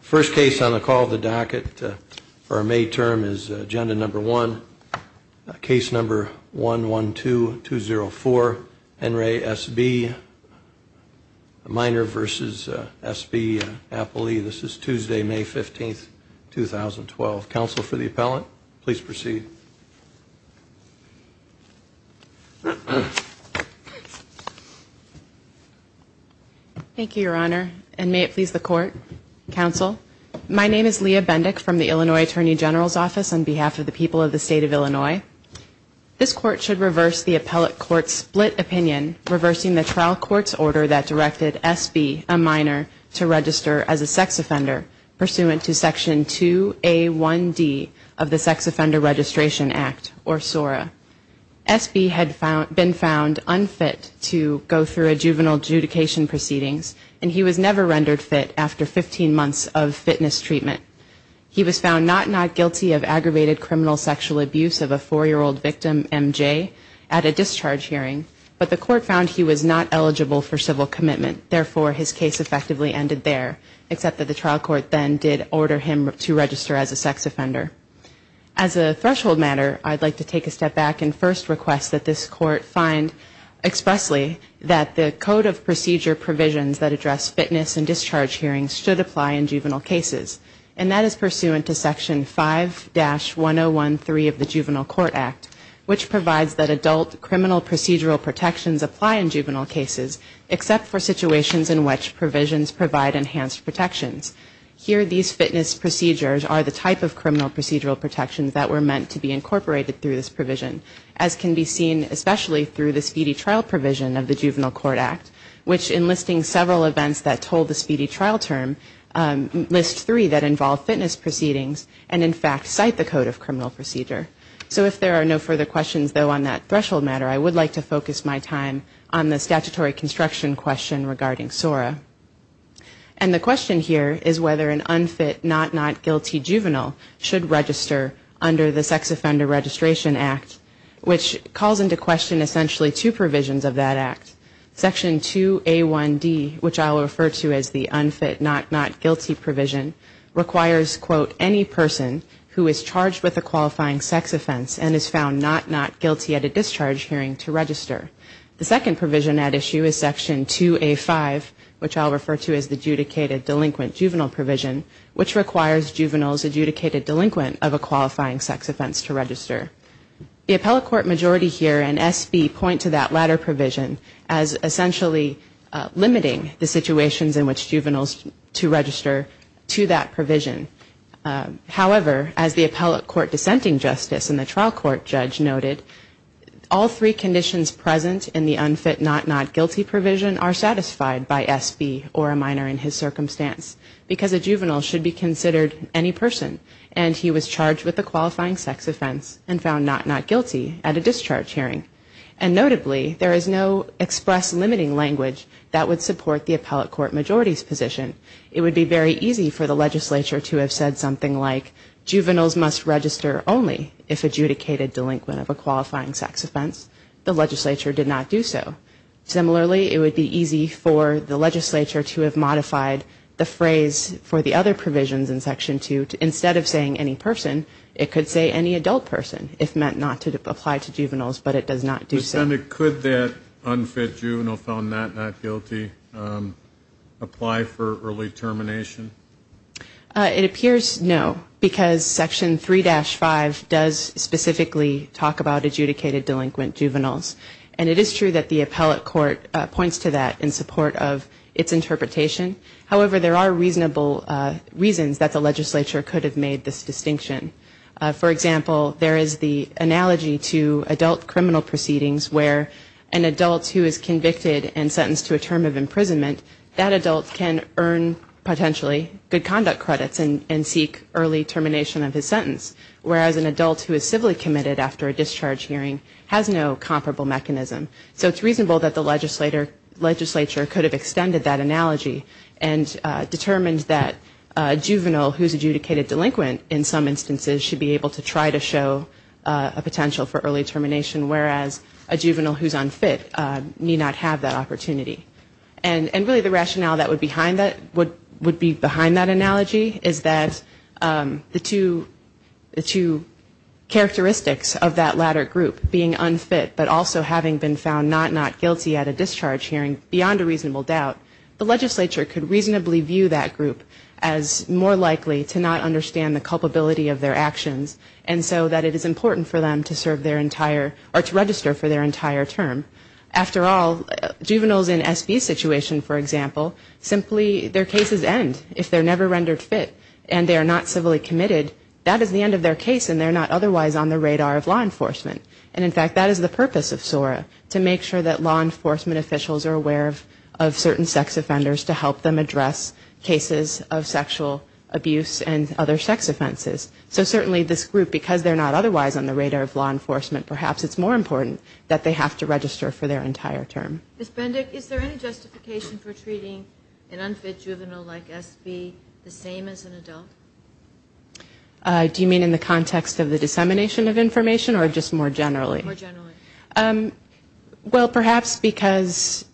First case on the call the docket for a May term is agenda number one case number one one two two zero four and re S.B. Minor versus S.B. Appley this is Tuesday May fifteenth two thousand twelve council for the appellate please proceed. Thank you your honor and may it please the court council my name is Leah Bendick from the Illinois attorney general's office on behalf of the people of the state of Illinois. This court should reverse the appellate court split opinion reversing the trial court's order that directed S.B. A minor to register as a sex offender pursuant to section two A one D of the sex offender registration act or S.O.R.A. S.B. Had been found unfit to go through a juvenile adjudication proceedings and he was never rendered fit after fifteen months of fitness treatment. He was found not not guilty of aggravated criminal sexual abuse of a four year old victim M.J. At a discharge hearing but the court found he was not eligible for civil commitment therefore his case effectively ended there except that the trial court then did order him to register as a sex offender. As a threshold matter I'd like to take a step back and first request that this court find expressly that the code of procedure provisions that address fitness and discharge hearings should apply in juvenile cases. And that is pursuant to section five dash one oh one three of the juvenile court act which provides that adult criminal procedural protections apply in juvenile cases except for situations in which provisions provide enhanced protections. Here these fitness procedures are the type of criminal procedural protections that were meant to be incorporated through this provision. As can be seen especially through the speedy trial provision of the juvenile court act which enlisting several events that told the speedy trial term list three that involve fitness proceedings and in fact cite the code of criminal procedure. So if there are no further questions though on that threshold matter I would like to focus my time on the statutory construction question regarding S.O.R.A. And the question here is whether an unfit not not guilty juvenile should register under the sex offender registration act which calls into question essentially two provisions of that act. Section two A one D which I'll refer to as the unfit not not guilty provision requires quote any person who is charged with a qualifying sex offense and is found not not guilty at a discharge hearing to register. The second provision at issue is section two A five which I'll refer to as the adjudicated delinquent juvenile provision which requires juveniles adjudicated delinquent of a qualifying sex offense to register. The appellate court majority here and S.B. point to that latter provision as essentially limiting the situations in which juveniles to register to that provision. However as the appellate court dissenting justice in the trial court judge noted all three conditions present in the unfit not not guilty provision are satisfied by S.B. or a minor in his circumstance because a juvenile should be considered any person and he was charged with a qualifying sex offense and found not not guilty at a discharge hearing. And notably there is no express limiting language that would support the appellate court majority's position. It would be very easy for the legislature to have said something like juveniles must register only if adjudicated delinquent of a qualifying sex offense. The legislature did not do so. Similarly it would be easy for the legislature to have modified the phrase for the other provisions in section two instead of saying any person it could say any adult person if meant not to apply to juveniles but it does not do so. Senator could that unfit juvenile found not not guilty apply for early termination? It appears no because section three dash five does specifically talk about adjudicated delinquent juveniles. And it is true that the appellate court points to that in support of its interpretation. However there are reasonable reasons that the legislature could have made this distinction. For example, there is the analogy to adult criminal proceedings where an adult who is convicted and sentenced to a term of imprisonment, that adult can earn potentially good conduct credits and seek early termination of his sentence. Whereas an adult who is civilly committed after a discharge hearing has no comparable mechanism. So it's reasonable that the legislature could have extended that analogy and determined that a juvenile who is adjudicated delinquent in some instances should not apply for early termination of his sentence. And in some instances should be able to try to show a potential for early termination whereas a juvenile who is unfit may not have that opportunity. And really the rationale that would be behind that analogy is that the two characteristics of that latter group being unfit but also having been found not not guilty at a discharge hearing beyond a reasonable doubt, the legislature could reasonably view that group as more likely to not understand the culpability of their actions. And so that it is important for them to serve their entire or to register for their entire term. After all, juveniles in SB situation, for example, simply their cases end if they're never rendered fit and they are not civilly committed, that is the end of their case and they're not otherwise on the radar of law enforcement. And in fact that is the purpose of SORA, to make sure that law enforcement officials are aware of certain sex offenders to help them address cases of sexual abuse and other sex offenses. So certainly this group, because they're not otherwise on the radar of law enforcement, perhaps it's more important that they have to register for their entire term. Ms. Bendick, is there any justification for treating an unfit juvenile like SB the same as an adult? Do you mean in the context of the dissemination of information or just more generally? More generally. Well, perhaps because,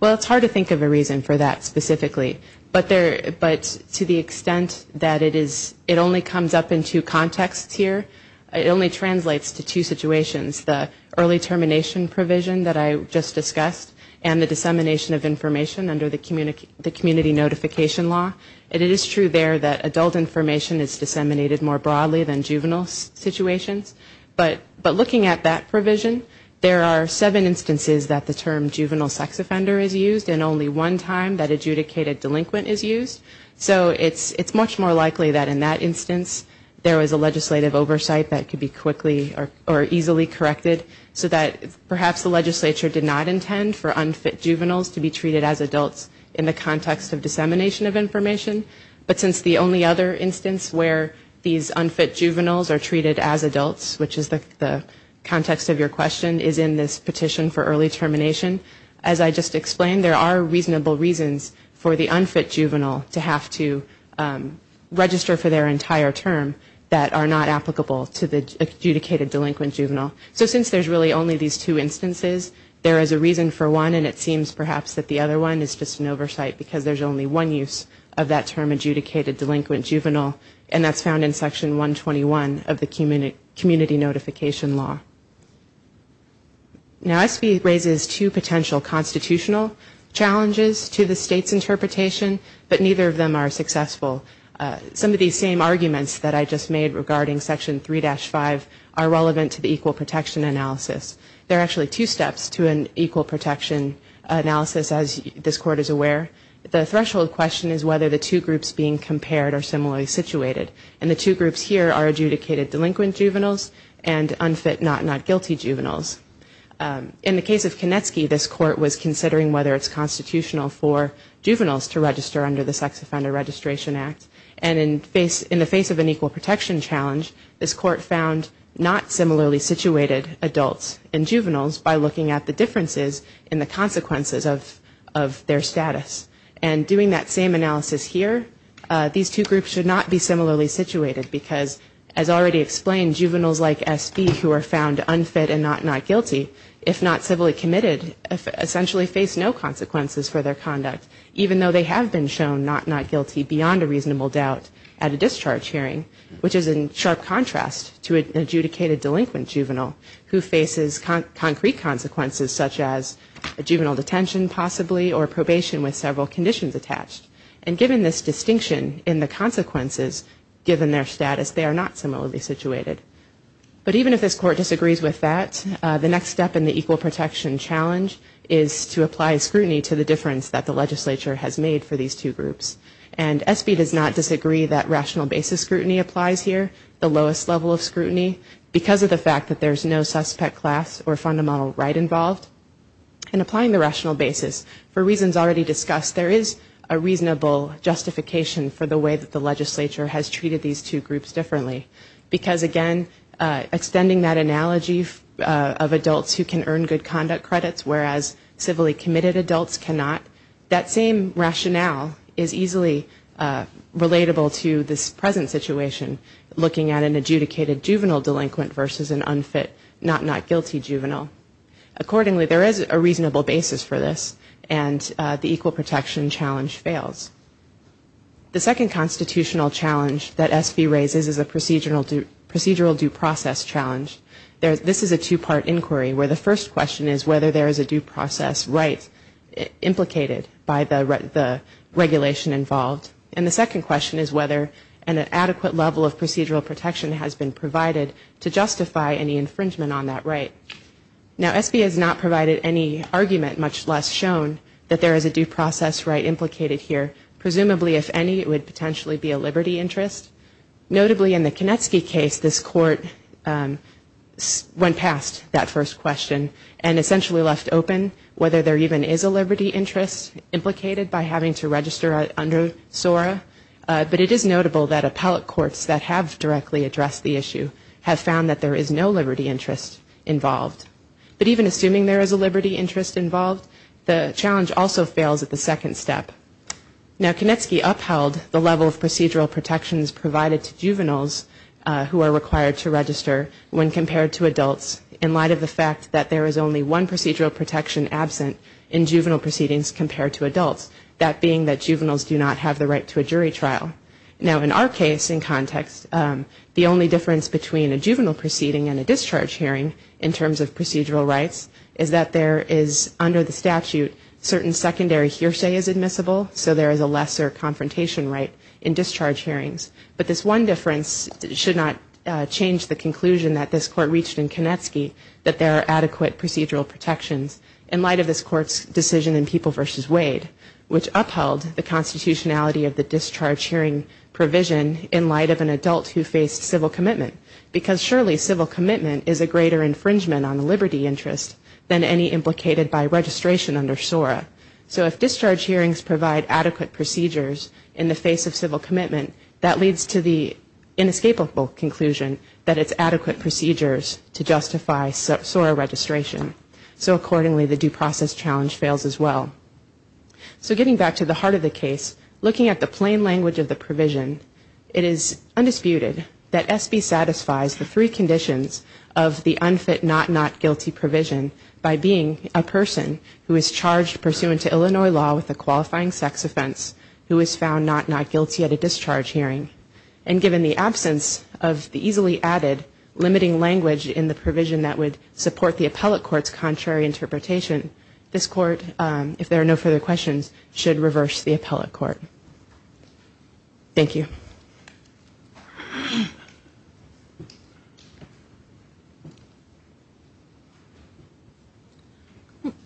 well, it's hard to think of a reason for that specifically. But to the extent that it only comes up in two contexts here, it only translates to two situations. The early termination provision that I just discussed and the dissemination of information under the community notification law. And it is true there that adult information is disseminated more broadly than juvenile situations. But looking at that provision, there are seven instances that the term juvenile sex offender is used and only one time that adjudicated delinquent is used. So it's much more likely that in that instance there was a legislative oversight that could be quickly or easily corrected so that perhaps the legislature did not intend for unfit juveniles to be treated as adults in the context of dissemination of information. But since the only other instance where these unfit juveniles are treated as adults, which is the context of your question, is in this petition for early termination. As I just explained, there are reasonable reasons for the unfit juvenile to have to register for their entire term that are not applicable to the adjudicated delinquent juvenile. So since there's really only these two instances, there is a reason for one. And it seems perhaps that the other one is just an oversight because there's only one use of that term adjudicated delinquent juvenile and that's found in section 121 of the community notification law. Now SB raises two potential constitutional challenges to the state's interpretation, but neither of them are successful. Some of these same arguments that I just made regarding section 3-5 are relevant to the equal protection analysis. There are actually two steps to an equal protection analysis, as this court is aware. The threshold question is whether the two groups being compared are similarly situated. And the two groups here are adjudicated delinquent juveniles and unfit, not not guilty juveniles. In the case of Kanetsky, this court was considering whether it's constitutional for juveniles to register under the Sex Offender Registration Act. And in the face of an equal protection challenge, this court found not similarly situated adults. And juveniles by looking at the differences in the consequences of their status. And doing that same analysis here, these two groups should not be similarly situated because, as already explained, juveniles like SB who are found unfit and not not guilty, if not civilly committed, essentially face no consequences for their conduct, even though they have been shown not not guilty beyond a reasonable doubt at a discharge hearing. Which is in sharp contrast to an adjudicated delinquent juvenile who faces concrete consequences such as a juvenile detention possibly or probation with several conditions attached. And given this distinction in the consequences, given their status, they are not similarly situated. But even if this court disagrees with that, the next step in the equal protection challenge is to apply scrutiny to the difference that the legislature has made for these two groups. And SB does not disagree that rational basis scrutiny applies here, the lowest level of scrutiny, because of the fact that there's no suspect class or fundamental right involved. And applying the rational basis, for reasons already discussed, there is a reasonable justification for the way that the legislature has treated these two groups differently. Because, again, extending that analogy of adults who can earn good conduct credits, whereas civilly committed adults cannot, that same rationale is easy to apply. And it's easily relatable to this present situation, looking at an adjudicated juvenile delinquent versus an unfit not not guilty juvenile. Accordingly, there is a reasonable basis for this, and the equal protection challenge fails. The second constitutional challenge that SB raises is a procedural due process challenge. This is a two-part inquiry, where the first question is whether there is a due process right implicated by the regulation in front of SB. And the second question is whether an adequate level of procedural protection has been provided to justify any infringement on that right. Now, SB has not provided any argument, much less shown, that there is a due process right implicated here. Presumably, if any, it would potentially be a liberty interest. Notably, in the Kanetsky case, this court went past that first question, and essentially left open whether there even is a liberty interest implicated by having to register under SB. This is noteworthy to SORA, but it is notable that appellate courts that have directly addressed the issue have found that there is no liberty interest involved. But even assuming there is a liberty interest involved, the challenge also fails at the second step. Now, Kanetsky upheld the level of procedural protections provided to juveniles who are required to register when compared to adults, in light of the fact that there is only one procedural protection absent in juvenile proceedings compared to adults, that being that juveniles do not have the right to a jury trial. Now, in our case, in context, the only difference between a juvenile proceeding and a discharge hearing in terms of procedural rights is that there is, under the statute, certain secondary hearsay is admissible, so there is a lesser confrontation right in discharge hearings. But this one difference should not change the conclusion that this court reached in Kanetsky, that there are adequate procedural protections. In light of this court's decision in People v. Wade, which upheld the constitutionality of the discharge hearing provision in light of an adult who faced civil commitment, because surely civil commitment is a greater infringement on the liberty interest than any implicated by registration under SORA. So if discharge hearings provide adequate procedures in the face of civil commitment, that leads to the inescapable conclusion that it's adequate procedures to justify SORA registration. So accordingly, the due process challenge fails as well. So getting back to the heart of the case, looking at the plain language of the provision, it is undisputed that SB satisfies the three conditions of the unfit not not guilty provision by being a person who is charged pursuant to Illinois law with a qualifying sex offense, who is found not not guilty at a discharge hearing, and given the absence of the easily added limiting language in the provision that would support the appellate court's decision, and the court's contrary interpretation, this court, if there are no further questions, should reverse the appellate court. Thank you. Carrie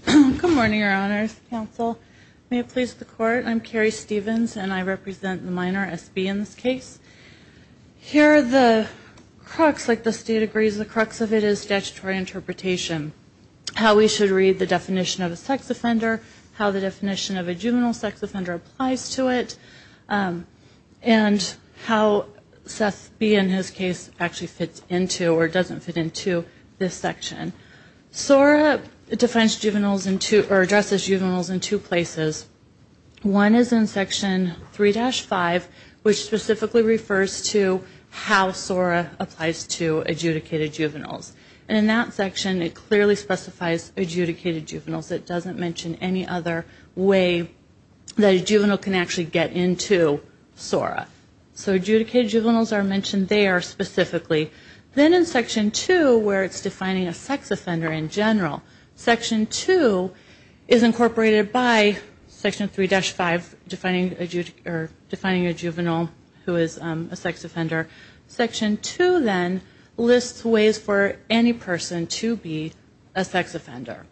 Stevens Good morning, Your Honors, Counsel. May it please the Court, I'm Carrie Stevens, and I represent the minor, SB, in this case. Here are the crux, like the State agrees, the crux of it is statutory interpretation. How we should read the definition of a sex offender, how the definition of a juvenile sex offender applies to it, and how SB, in his case, actually fits into or doesn't fit into this section. SORA defines juveniles in two, or addresses juveniles in two places. One is in Section 3-5, which specifically refers to how SORA applies to adjudicated juveniles. And in that section, it clearly specifies adjudicated juveniles. It doesn't mention any other way that a juvenile can actually get into SORA. So adjudicated juveniles are mentioned there specifically. Then in Section 2, where it's defining a sex offender in general, Section 2 is incorporated by Section 3-5, defining a juvenile who is a sex offender. Section 2 then lists ways for any person to be a sex offender.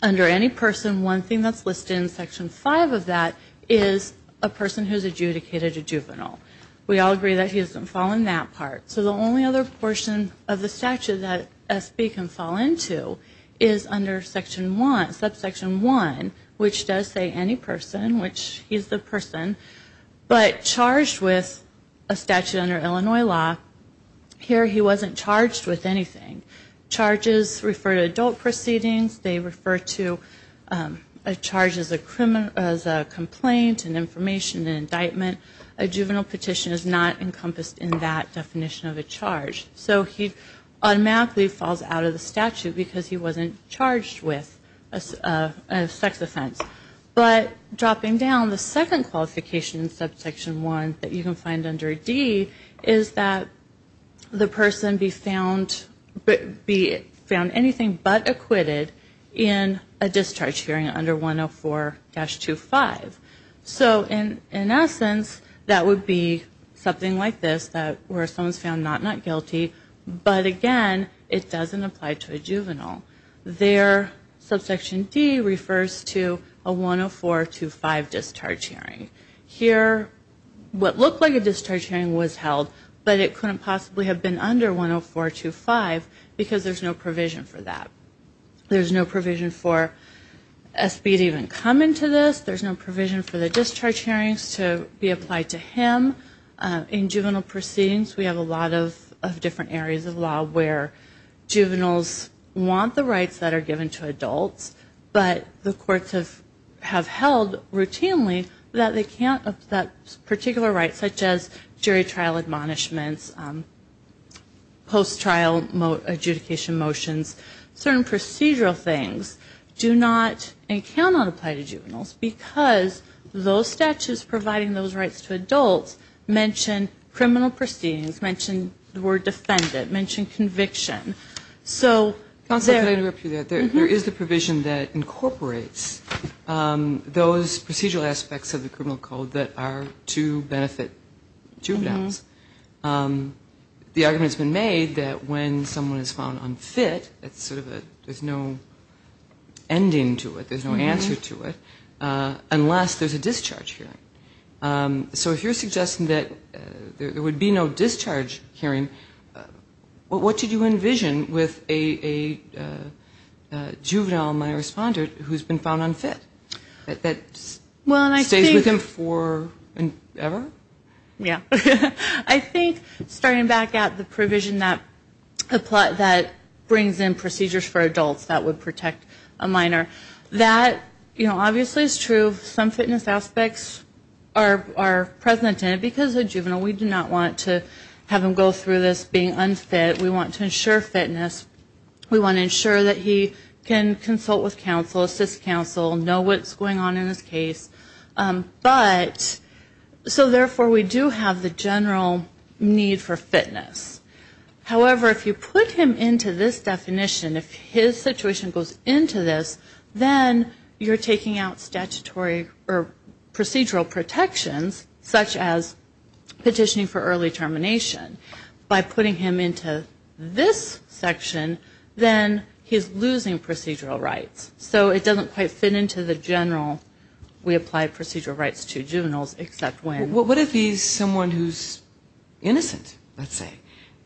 Under any person, one thing that's listed in Section 5 of that is a person who is adjudicated a juvenile. We all agree that he doesn't fall in that part. So the only other portion of the statute that SB can fall into is under Section 1, subsection 1, which does say any person, which he's the person, but charged with a statute under Illinois law, here he wasn't charged with anything. Charges refer to adult proceedings, they refer to a charge as a complaint, an information, an indictment. A juvenile petition is not encompassed in that definition of a charge. So he automatically falls out of the statute because he wasn't charged with a sex offense. But dropping down, the second qualification in Subsection 1 that you can find under D is that the person be found anything but acquitted in a discharge hearing under 104-25. So in essence, that would be something like this, where someone is found not not guilty, but again, it doesn't apply to a juvenile. There, subsection D refers to a 104-25 discharge hearing. Here, what looked like a discharge hearing was held, but it couldn't possibly have been under 104-25 because there's no provision for that. There's no provision for SB to even come into this, there's no provision for the discharge hearings to be applied to him. In juvenile proceedings, we have a lot of different areas of law where juveniles want the discharge hearing to be held. They want the rights that are given to adults, but the courts have held routinely that they can't, that particular rights, such as jury trial admonishments, post-trial adjudication motions, certain procedural things do not and cannot apply to juveniles because those statutes providing those rights to adults mention criminal proceedings, mention the word defendant, mention conviction. There is the provision that incorporates those procedural aspects of the criminal code that are to benefit juveniles. The argument's been made that when someone is found unfit, there's no ending to it, there's no answer to it, unless there's a discharge hearing. So if you're suggesting that there would be no discharge hearing, what did you envision with a discharge hearing? A juvenile, my responder, who's been found unfit, that stays with him forever? Yeah. I think, starting back at the provision that brings in procedures for adults that would protect a minor, that, you know, obviously is true. Some fitness aspects are present in it, because a juvenile, we do not want to have him go through this being unfit. We want to ensure fitness, we want to ensure that he can consult with counsel, assist counsel, know what's going on in his case. But, so therefore we do have the general need for fitness. However, if you put him into this definition, if his situation goes into this, then you're taking out statutory or procedural protections, such as this section, then he's losing procedural rights. So it doesn't quite fit into the general, we apply procedural rights to juveniles, except when. What if he's someone who's innocent, let's say?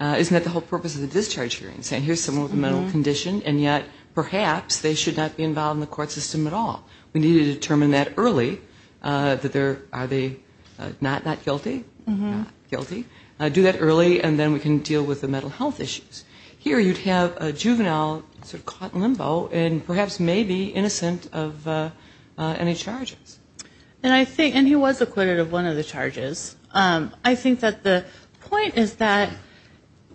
Isn't that the whole purpose of the discharge hearing? Saying here's someone with a mental condition, and yet perhaps they should not be involved in the court system at all. We need to determine that early, that there, are they not guilty? Not guilty? Do that early, and then we can deal with the mental health issues. Here you'd have a juvenile sort of caught in limbo, and perhaps may be innocent of any charges. And I think, and he was acquitted of one of the charges. I think that the point is that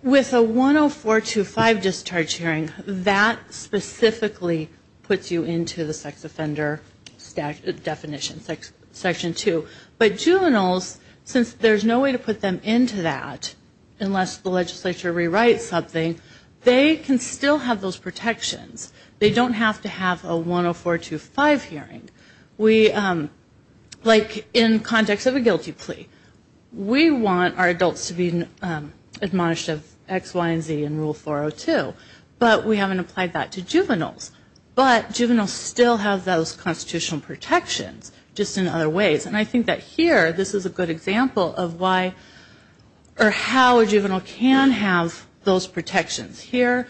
with a 10425 discharge hearing, that specifically puts you into the sex offender definition, section two. But juveniles, since there's no way to put them into that, unless the legislature rewrites something, they can still have those protections. They don't have to have a 10425 hearing. Like in context of a guilty plea, we want our adults to be admonished of X, Y, and Z in Rule 402, but we haven't applied that to juveniles. But juveniles still have those constitutional protections, just in other ways. And I think that here, this is a good example of why, or how a juvenile can have those protections. Here,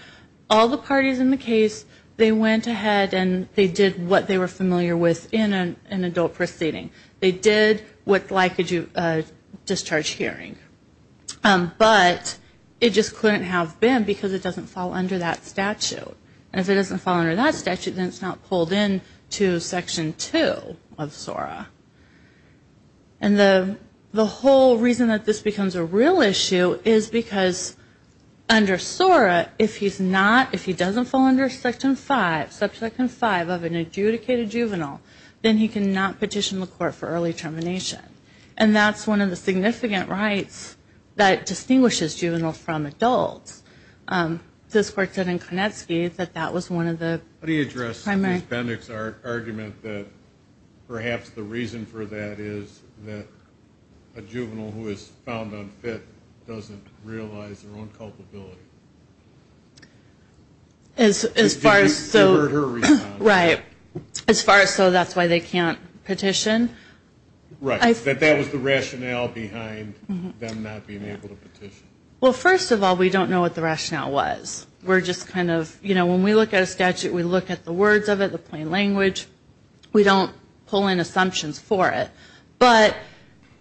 all the parties in the case, they went ahead and they did what they were familiar with in an adult proceeding. They did what's like a discharge hearing. But it just couldn't have been, because it doesn't fall under that statute. And if it doesn't fall under that statute, then it's not pulled into section two of SORA. And the whole reason that this becomes a real issue is because under SORA, if he's not, if he doesn't fall under section five, section five of an adjudicated juvenile, then he cannot petition the court for early termination. And that's one of the significant rights that distinguishes juveniles from adults. This court said in Konecki that that was one of the primary. I'm just going to dismiss Ms. Bendick's argument that perhaps the reason for that is that a juvenile who is found unfit doesn't realize their own culpability. As far as so. Right, as far as so that's why they can't petition. Right, that that was the rationale behind them not being able to petition. Well, first of all, we don't know what the rationale was. We're just kind of, you know, when we look at a statute, we look at the words of it, the plain language, we don't pull in assumptions for it. But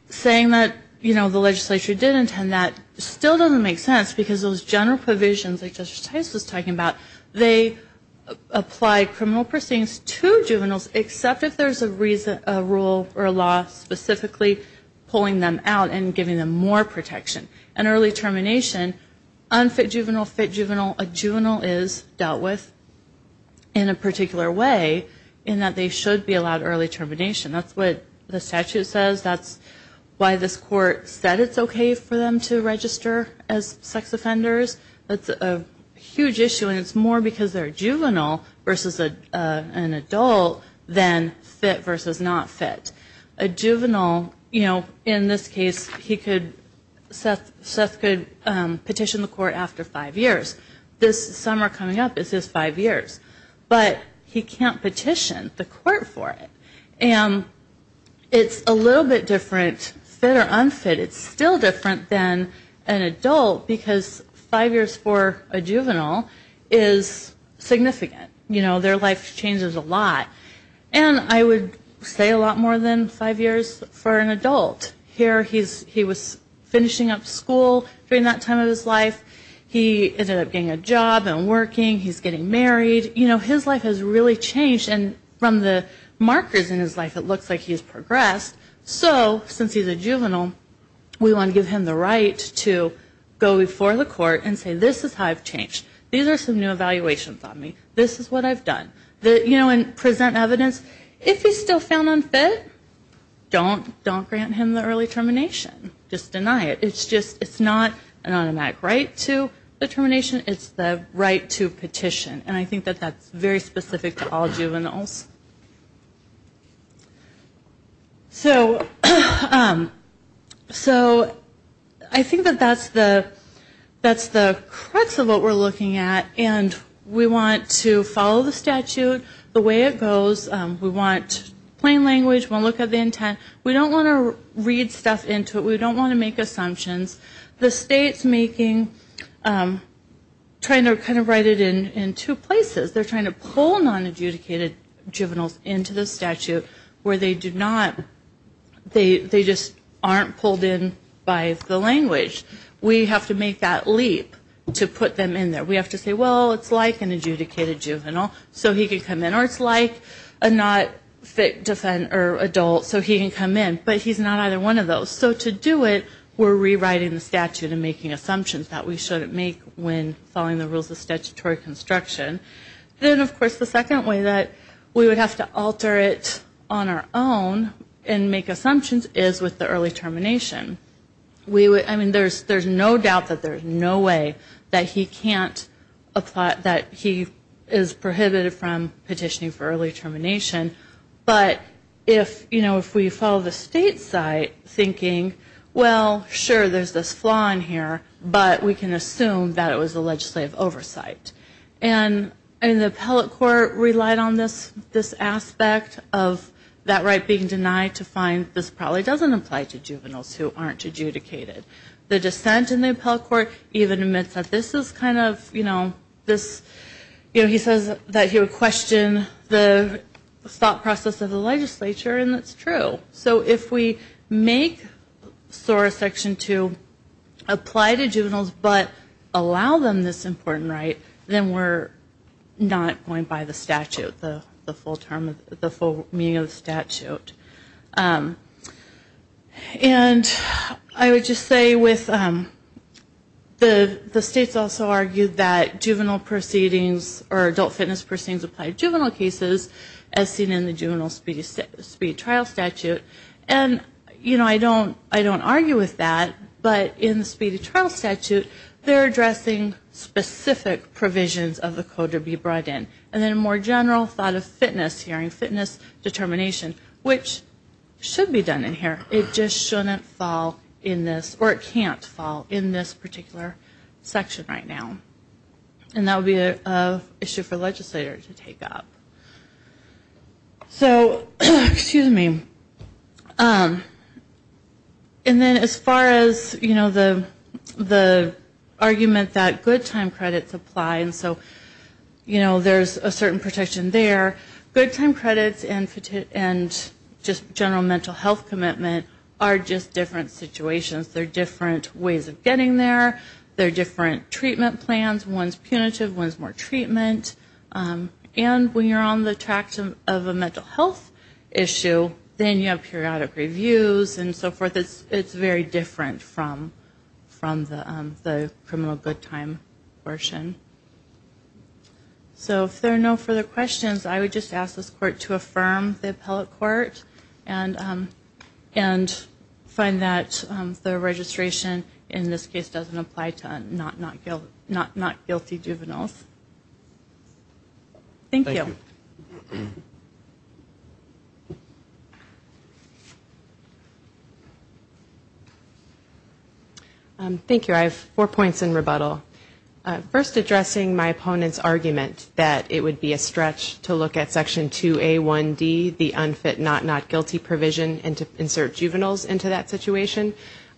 saying that, you know, the legislature did intend that still doesn't make sense, because those general provisions, like Justice Tice was talking about, they apply criminal proceedings to juveniles, except if there's a rule or a law specifically pulling them out and giving them more protection. And early termination, unfit juvenile, fit juvenile, a juvenile is dealt with in a particular way in that they should be allowed early termination. That's what the statute says. That's why this court said it's okay for them to register as sex offenders. That's a huge issue, and it's more because they're a juvenile versus an adult than fit versus not fit. A juvenile, you know, in this case, he could, Seth could petition the court after five years. This summer coming up is his five years, but he can't petition the court for it. And it's a little bit different, fit or unfit, it's still different than an adult, because five years for a juvenile is significant. You know, their life changes a lot, and I would say a lot more than five years for an adult. Here he was finishing up school during that time of his life, he ended up getting a job and working, he's getting married. You know, his life has really changed, and from the markers in his life, it looks like he's progressed. So since he's a juvenile, we want to give him the right to go before the court and say, this is how I've changed. These are some new evaluations on me. This is what I've done. You know, and present evidence. If he's still found unfit, don't grant him the early termination. Just deny it. It's just, it's not an automatic right to the termination, it's the right to petition. And I think that that's very specific to all juveniles. So I think that that's the crux of what we're looking at. And we want to follow the statute the way it goes. We want plain language, we'll look at the intent. We don't want to read stuff into it, we don't want to make assumptions. The state's making, trying to kind of write it in two places. They're trying to pull non-adjudicated juveniles into the statute where they do not, they just aren't pulled in by the language. We have to make that leap to put them in there. We have to say, well, it's like an adjudicated juvenile, so he can come in. Or it's like a not-fit adult, so he can come in. But he's not either one of those. So to do it, we're rewriting the statute and making assumptions that we shouldn't make when following the rules of statutory construction. Then, of course, the second way that we would have to alter it on our own and make assumptions is with the early termination. I mean, there's no doubt that there's no way that he can't apply, that he is prohibited from petitioning for early termination. But if, you know, if we follow the state's side, thinking, well, sure, there's this flaw in here, but we can assume that it was a legislative oversight. And the appellate court relied on this aspect of that right being denied to find this probably doesn't apply to juveniles who aren't eligible for early termination. And who aren't adjudicated. The dissent in the appellate court even admits that this is kind of, you know, this, you know, he says that he would question the thought process of the legislature, and that's true. So if we make SORA Section 2 apply to juveniles but allow them this important right, then we're not going by the statute, the full term, the full meaning of the statute. And I would just say with the states also argued that juvenile proceedings or adult fitness proceedings apply to juvenile cases as seen in the juvenile speed trial statute. And, you know, I don't argue with that, but in the speedy trial statute, they're addressing specific provisions of the code to be brought in. And then a more general thought of fitness hearing, fitness determination, which should be done in here. It just shouldn't fall in this, or it can't fall in this particular section right now. And that would be an issue for legislators to take up. So, excuse me, and then as far as, you know, the argument that good time credits apply. And so, you know, there's a certain protection there. Good time credits and just general mental health commitment are just different situations. They're different ways of getting there. They're different treatment plans. One's punitive, one's more treatment. And when you're on the track of a mental health issue, then you have periodic reviews and so forth. It's very different from the criminal good time portion. So if there are no further questions, I would just ask this court to affirm the appellate court and find that the registration in this case doesn't apply to not guilty juveniles. Thank you. Thank you. I have four points in rebuttal. First, addressing my opponent's argument that it would be a stretch to look at Section 2A1D, the unfit, not not guilty provision, and to insert juveniles into that situation.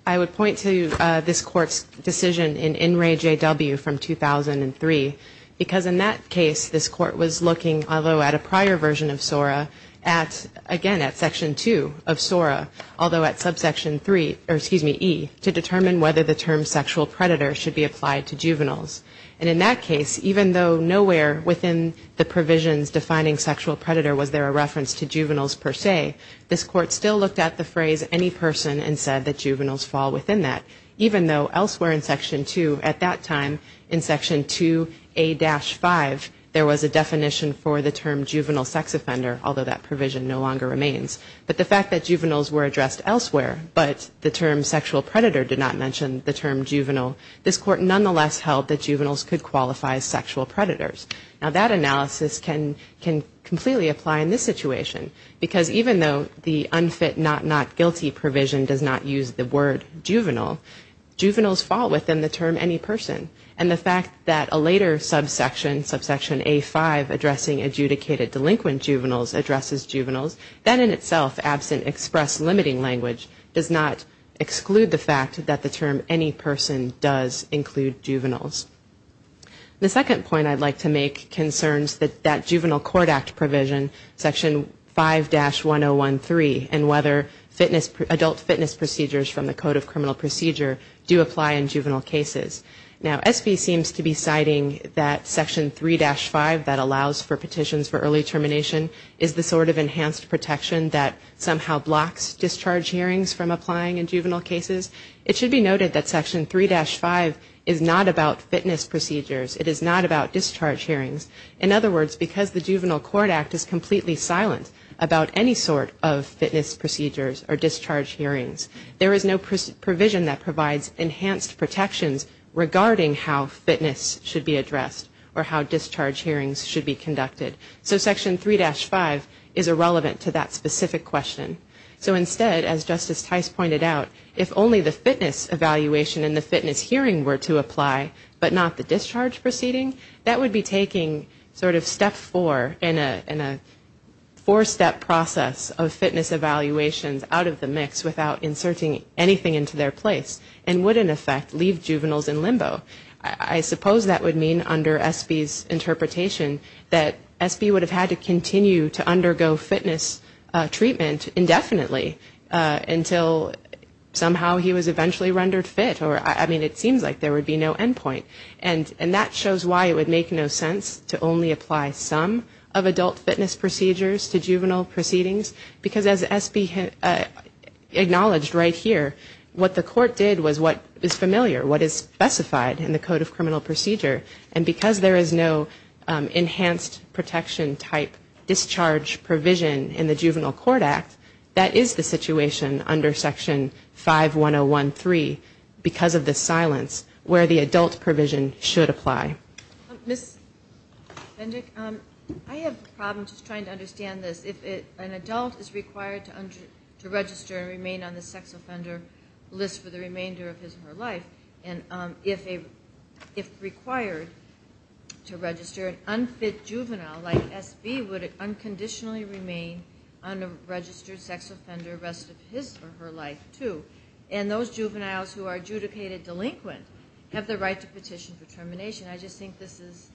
I would point to this court's decision in In Re, J.W. from 2003. Because in that case, this court was looking, although at a prior version of SORA, at, again, at Section 2 of SORA, although at subsection 2A. Section 3, or excuse me, E, to determine whether the term sexual predator should be applied to juveniles. And in that case, even though nowhere within the provisions defining sexual predator was there a reference to juveniles per se, this court still looked at the phrase any person and said that juveniles fall within that. Even though elsewhere in Section 2, at that time, in Section 2A-5, there was a definition for the term juvenile sex offender, although that provision no longer remains. But the fact that juveniles were addressed elsewhere, but the term sexual predator did not mention the term juvenile, this court nonetheless held that juveniles could qualify as sexual predators. Now that analysis can completely apply in this situation, because even though the unfit, not not guilty provision does not use the word juvenile, juveniles fall within the term any person. And the fact that a later subsection, subsection A-5, addressing adjudicated delinquent juveniles addresses juveniles. And the fact that the term itself, absent express limiting language, does not exclude the fact that the term any person does include juveniles. The second point I'd like to make concerns that that Juvenile Court Act provision, Section 5-1013, and whether fitness, adult fitness procedures from the Code of Criminal Procedure do apply in juvenile cases. Now, SB seems to be citing that Section 3-5 that allows for petitions for early termination is the sort of enhanced protection that juvenile court that somehow blocks discharge hearings from applying in juvenile cases. It should be noted that Section 3-5 is not about fitness procedures. It is not about discharge hearings. In other words, because the Juvenile Court Act is completely silent about any sort of fitness procedures or discharge hearings, there is no provision that provides enhanced protections regarding how fitness should be addressed or how discharge hearings should be conducted. So Section 3-5 is irrelevant to that specific question. So instead, as Justice Tice pointed out, if only the fitness evaluation and the fitness hearing were to apply, but not the discharge proceeding, that would be taking sort of step four in a four-step process of fitness evaluations out of the mix without inserting anything into their place and would, in effect, leave juveniles in limbo. I suppose that would mean, under SB's interpretation, that SB would have had to continue to undergo fitness treatment indefinitely until somehow he was eventually rendered fit, or, I mean, it seems like there would be no end point. And that shows why it would make no sense to only apply some of adult fitness procedures to juvenile proceedings, because as SB acknowledged right here, what the court did was what is familiar, what is specified in the Code of Criminal Procedure. And because there is no enhanced protection-type discharge provision in the Juvenile Court Act, that is the situation under Section 5-101-3 because of the silence where the adult provision should apply. Ms. Bendick, I have a problem just trying to understand this. If an adult is required to register and remain on the sex-offensive offender list for the remainder of his or her life, and if required to register an unfit juvenile like SB, would it unconditionally remain on a registered sex offender rest of his or her life, too? And those juveniles who are adjudicated delinquent have the right to petition for termination. I just think this is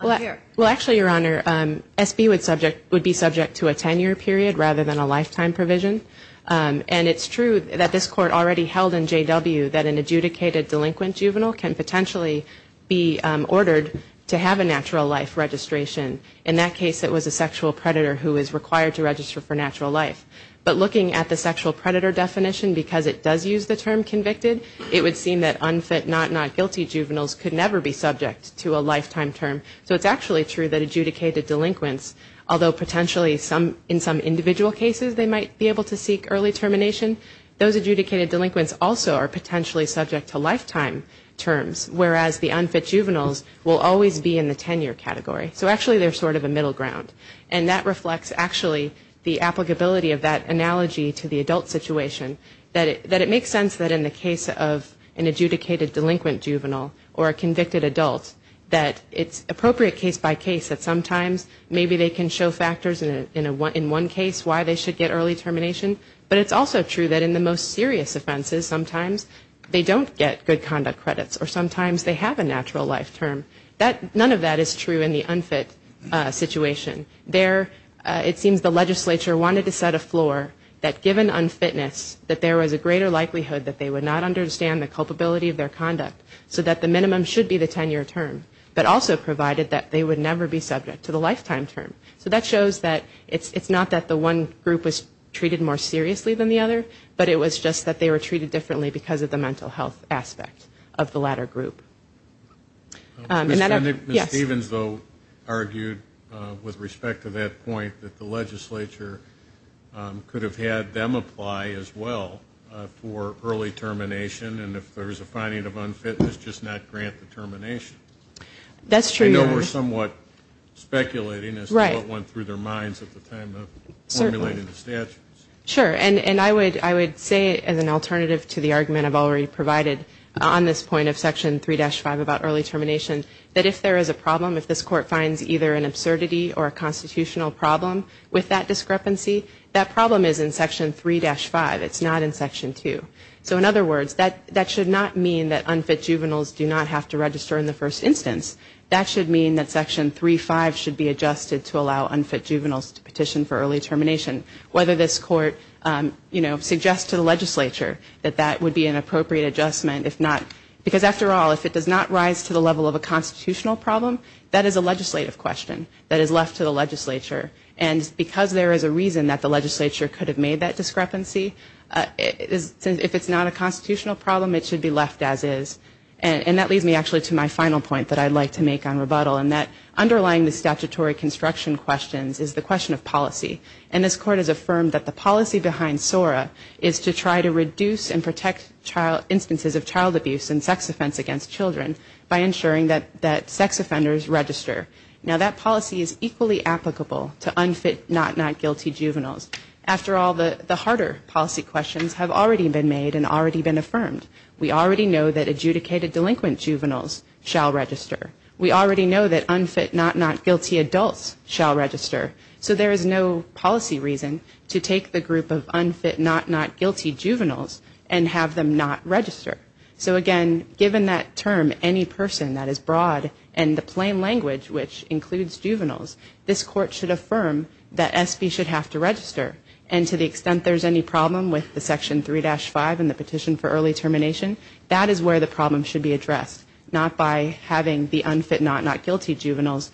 unfair. Well, actually, Your Honor, SB would be subject to a 10-year period rather than a lifetime provision. And it's true that this court already held in J.W. that an adjudicated delinquent juvenile can potentially be ordered to have a natural life registration. In that case, it was a sexual predator who is required to register for natural life. But looking at the sexual predator definition, because it does use the term convicted, it would seem that unfit, not not guilty juveniles could never be subject to a lifetime term. So it's actually true that adjudicated delinquents, although potentially in some individual cases they might be able to seek early termination, those adjudicated delinquents also are potentially subject to lifetime terms, whereas the unfit juveniles will always be in the 10-year category. So actually they're sort of a middle ground. And that reflects actually the applicability of that analogy to the adult situation, that it makes sense that in the case of an adjudicated delinquent juvenile or a convicted adult that it's appropriate to case by case that sometimes maybe they can show factors in one case why they should get early termination. But it's also true that in the most serious offenses sometimes they don't get good conduct credits or sometimes they have a natural life term. None of that is true in the unfit situation. There it seems the legislature wanted to set a floor that given unfitness that there was a greater likelihood that they would not understand the culpability of their conduct, so that the minimum should be the 10-year term, but also provided that the would never be subject to the lifetime term. So that shows that it's not that the one group was treated more seriously than the other, but it was just that they were treated differently because of the mental health aspect of the latter group. And that I've, yes. Male Speaker 2 Mr. Stevens though argued with respect to that point that the legislature could have had them apply as well for early termination and if there's a finding of unfitness just not grant the termination. I know we're somewhat speculating as to what went through their minds at the time of formulating the statutes. Female Speaker 1 Sure. And I would say as an alternative to the argument I've already provided on this point of Section 3-5 about early termination, that if there is a problem, if this court finds either an absurdity or a constitutional problem with that discrepancy, that problem is in Section 3-5. It's not in Section 2. So in other words, that should not mean that unfit juveniles do not have to petition for early termination. In this instance, that should mean that Section 3-5 should be adjusted to allow unfit juveniles to petition for early termination. Whether this court, you know, suggests to the legislature that that would be an appropriate adjustment, if not, because after all, if it does not rise to the level of a constitutional problem, that is a legislative question that is left to the legislature. And because there is a reason that the legislature could have made that discrepancy, if it's not a constitutional problem, it should be left as is. And that leads me actually to my final point that I'd like to make on rebuttal, and that underlying the statutory construction questions is the question of policy. And this court has affirmed that the policy behind SORA is to try to reduce and protect instances of child abuse and sex offense against children by ensuring that sex offenders register. Now that policy is equally applicable to unfit, not not guilty juveniles. After all, the harder policy questions have already been made and already been affirmed. We already know that adjudicated delinquent juveniles shall register. We already know that unfit, not not guilty adults shall register. So there is no policy reason to take the group of unfit, not not guilty juveniles and have them not register. So again, given that term, any person that is broad and the plain language, which includes juveniles, this court should affirm that SB should have to address the issue of child abuse and sex offender determination. That is where the problem should be addressed. Not by having the unfit, not not guilty juveniles,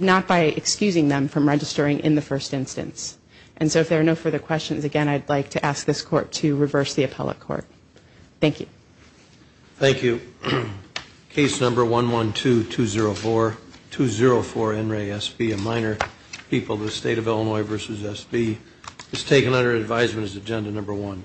not by excusing them from registering in the first instance. And so if there are no further questions, again, I'd like to ask this court to reverse the appellate court. Thank you. Thank you. Case number 112-204, 204 NRA SB, a minor people, the State of Illinois v. SB, is taken under advisement as Agenda 1.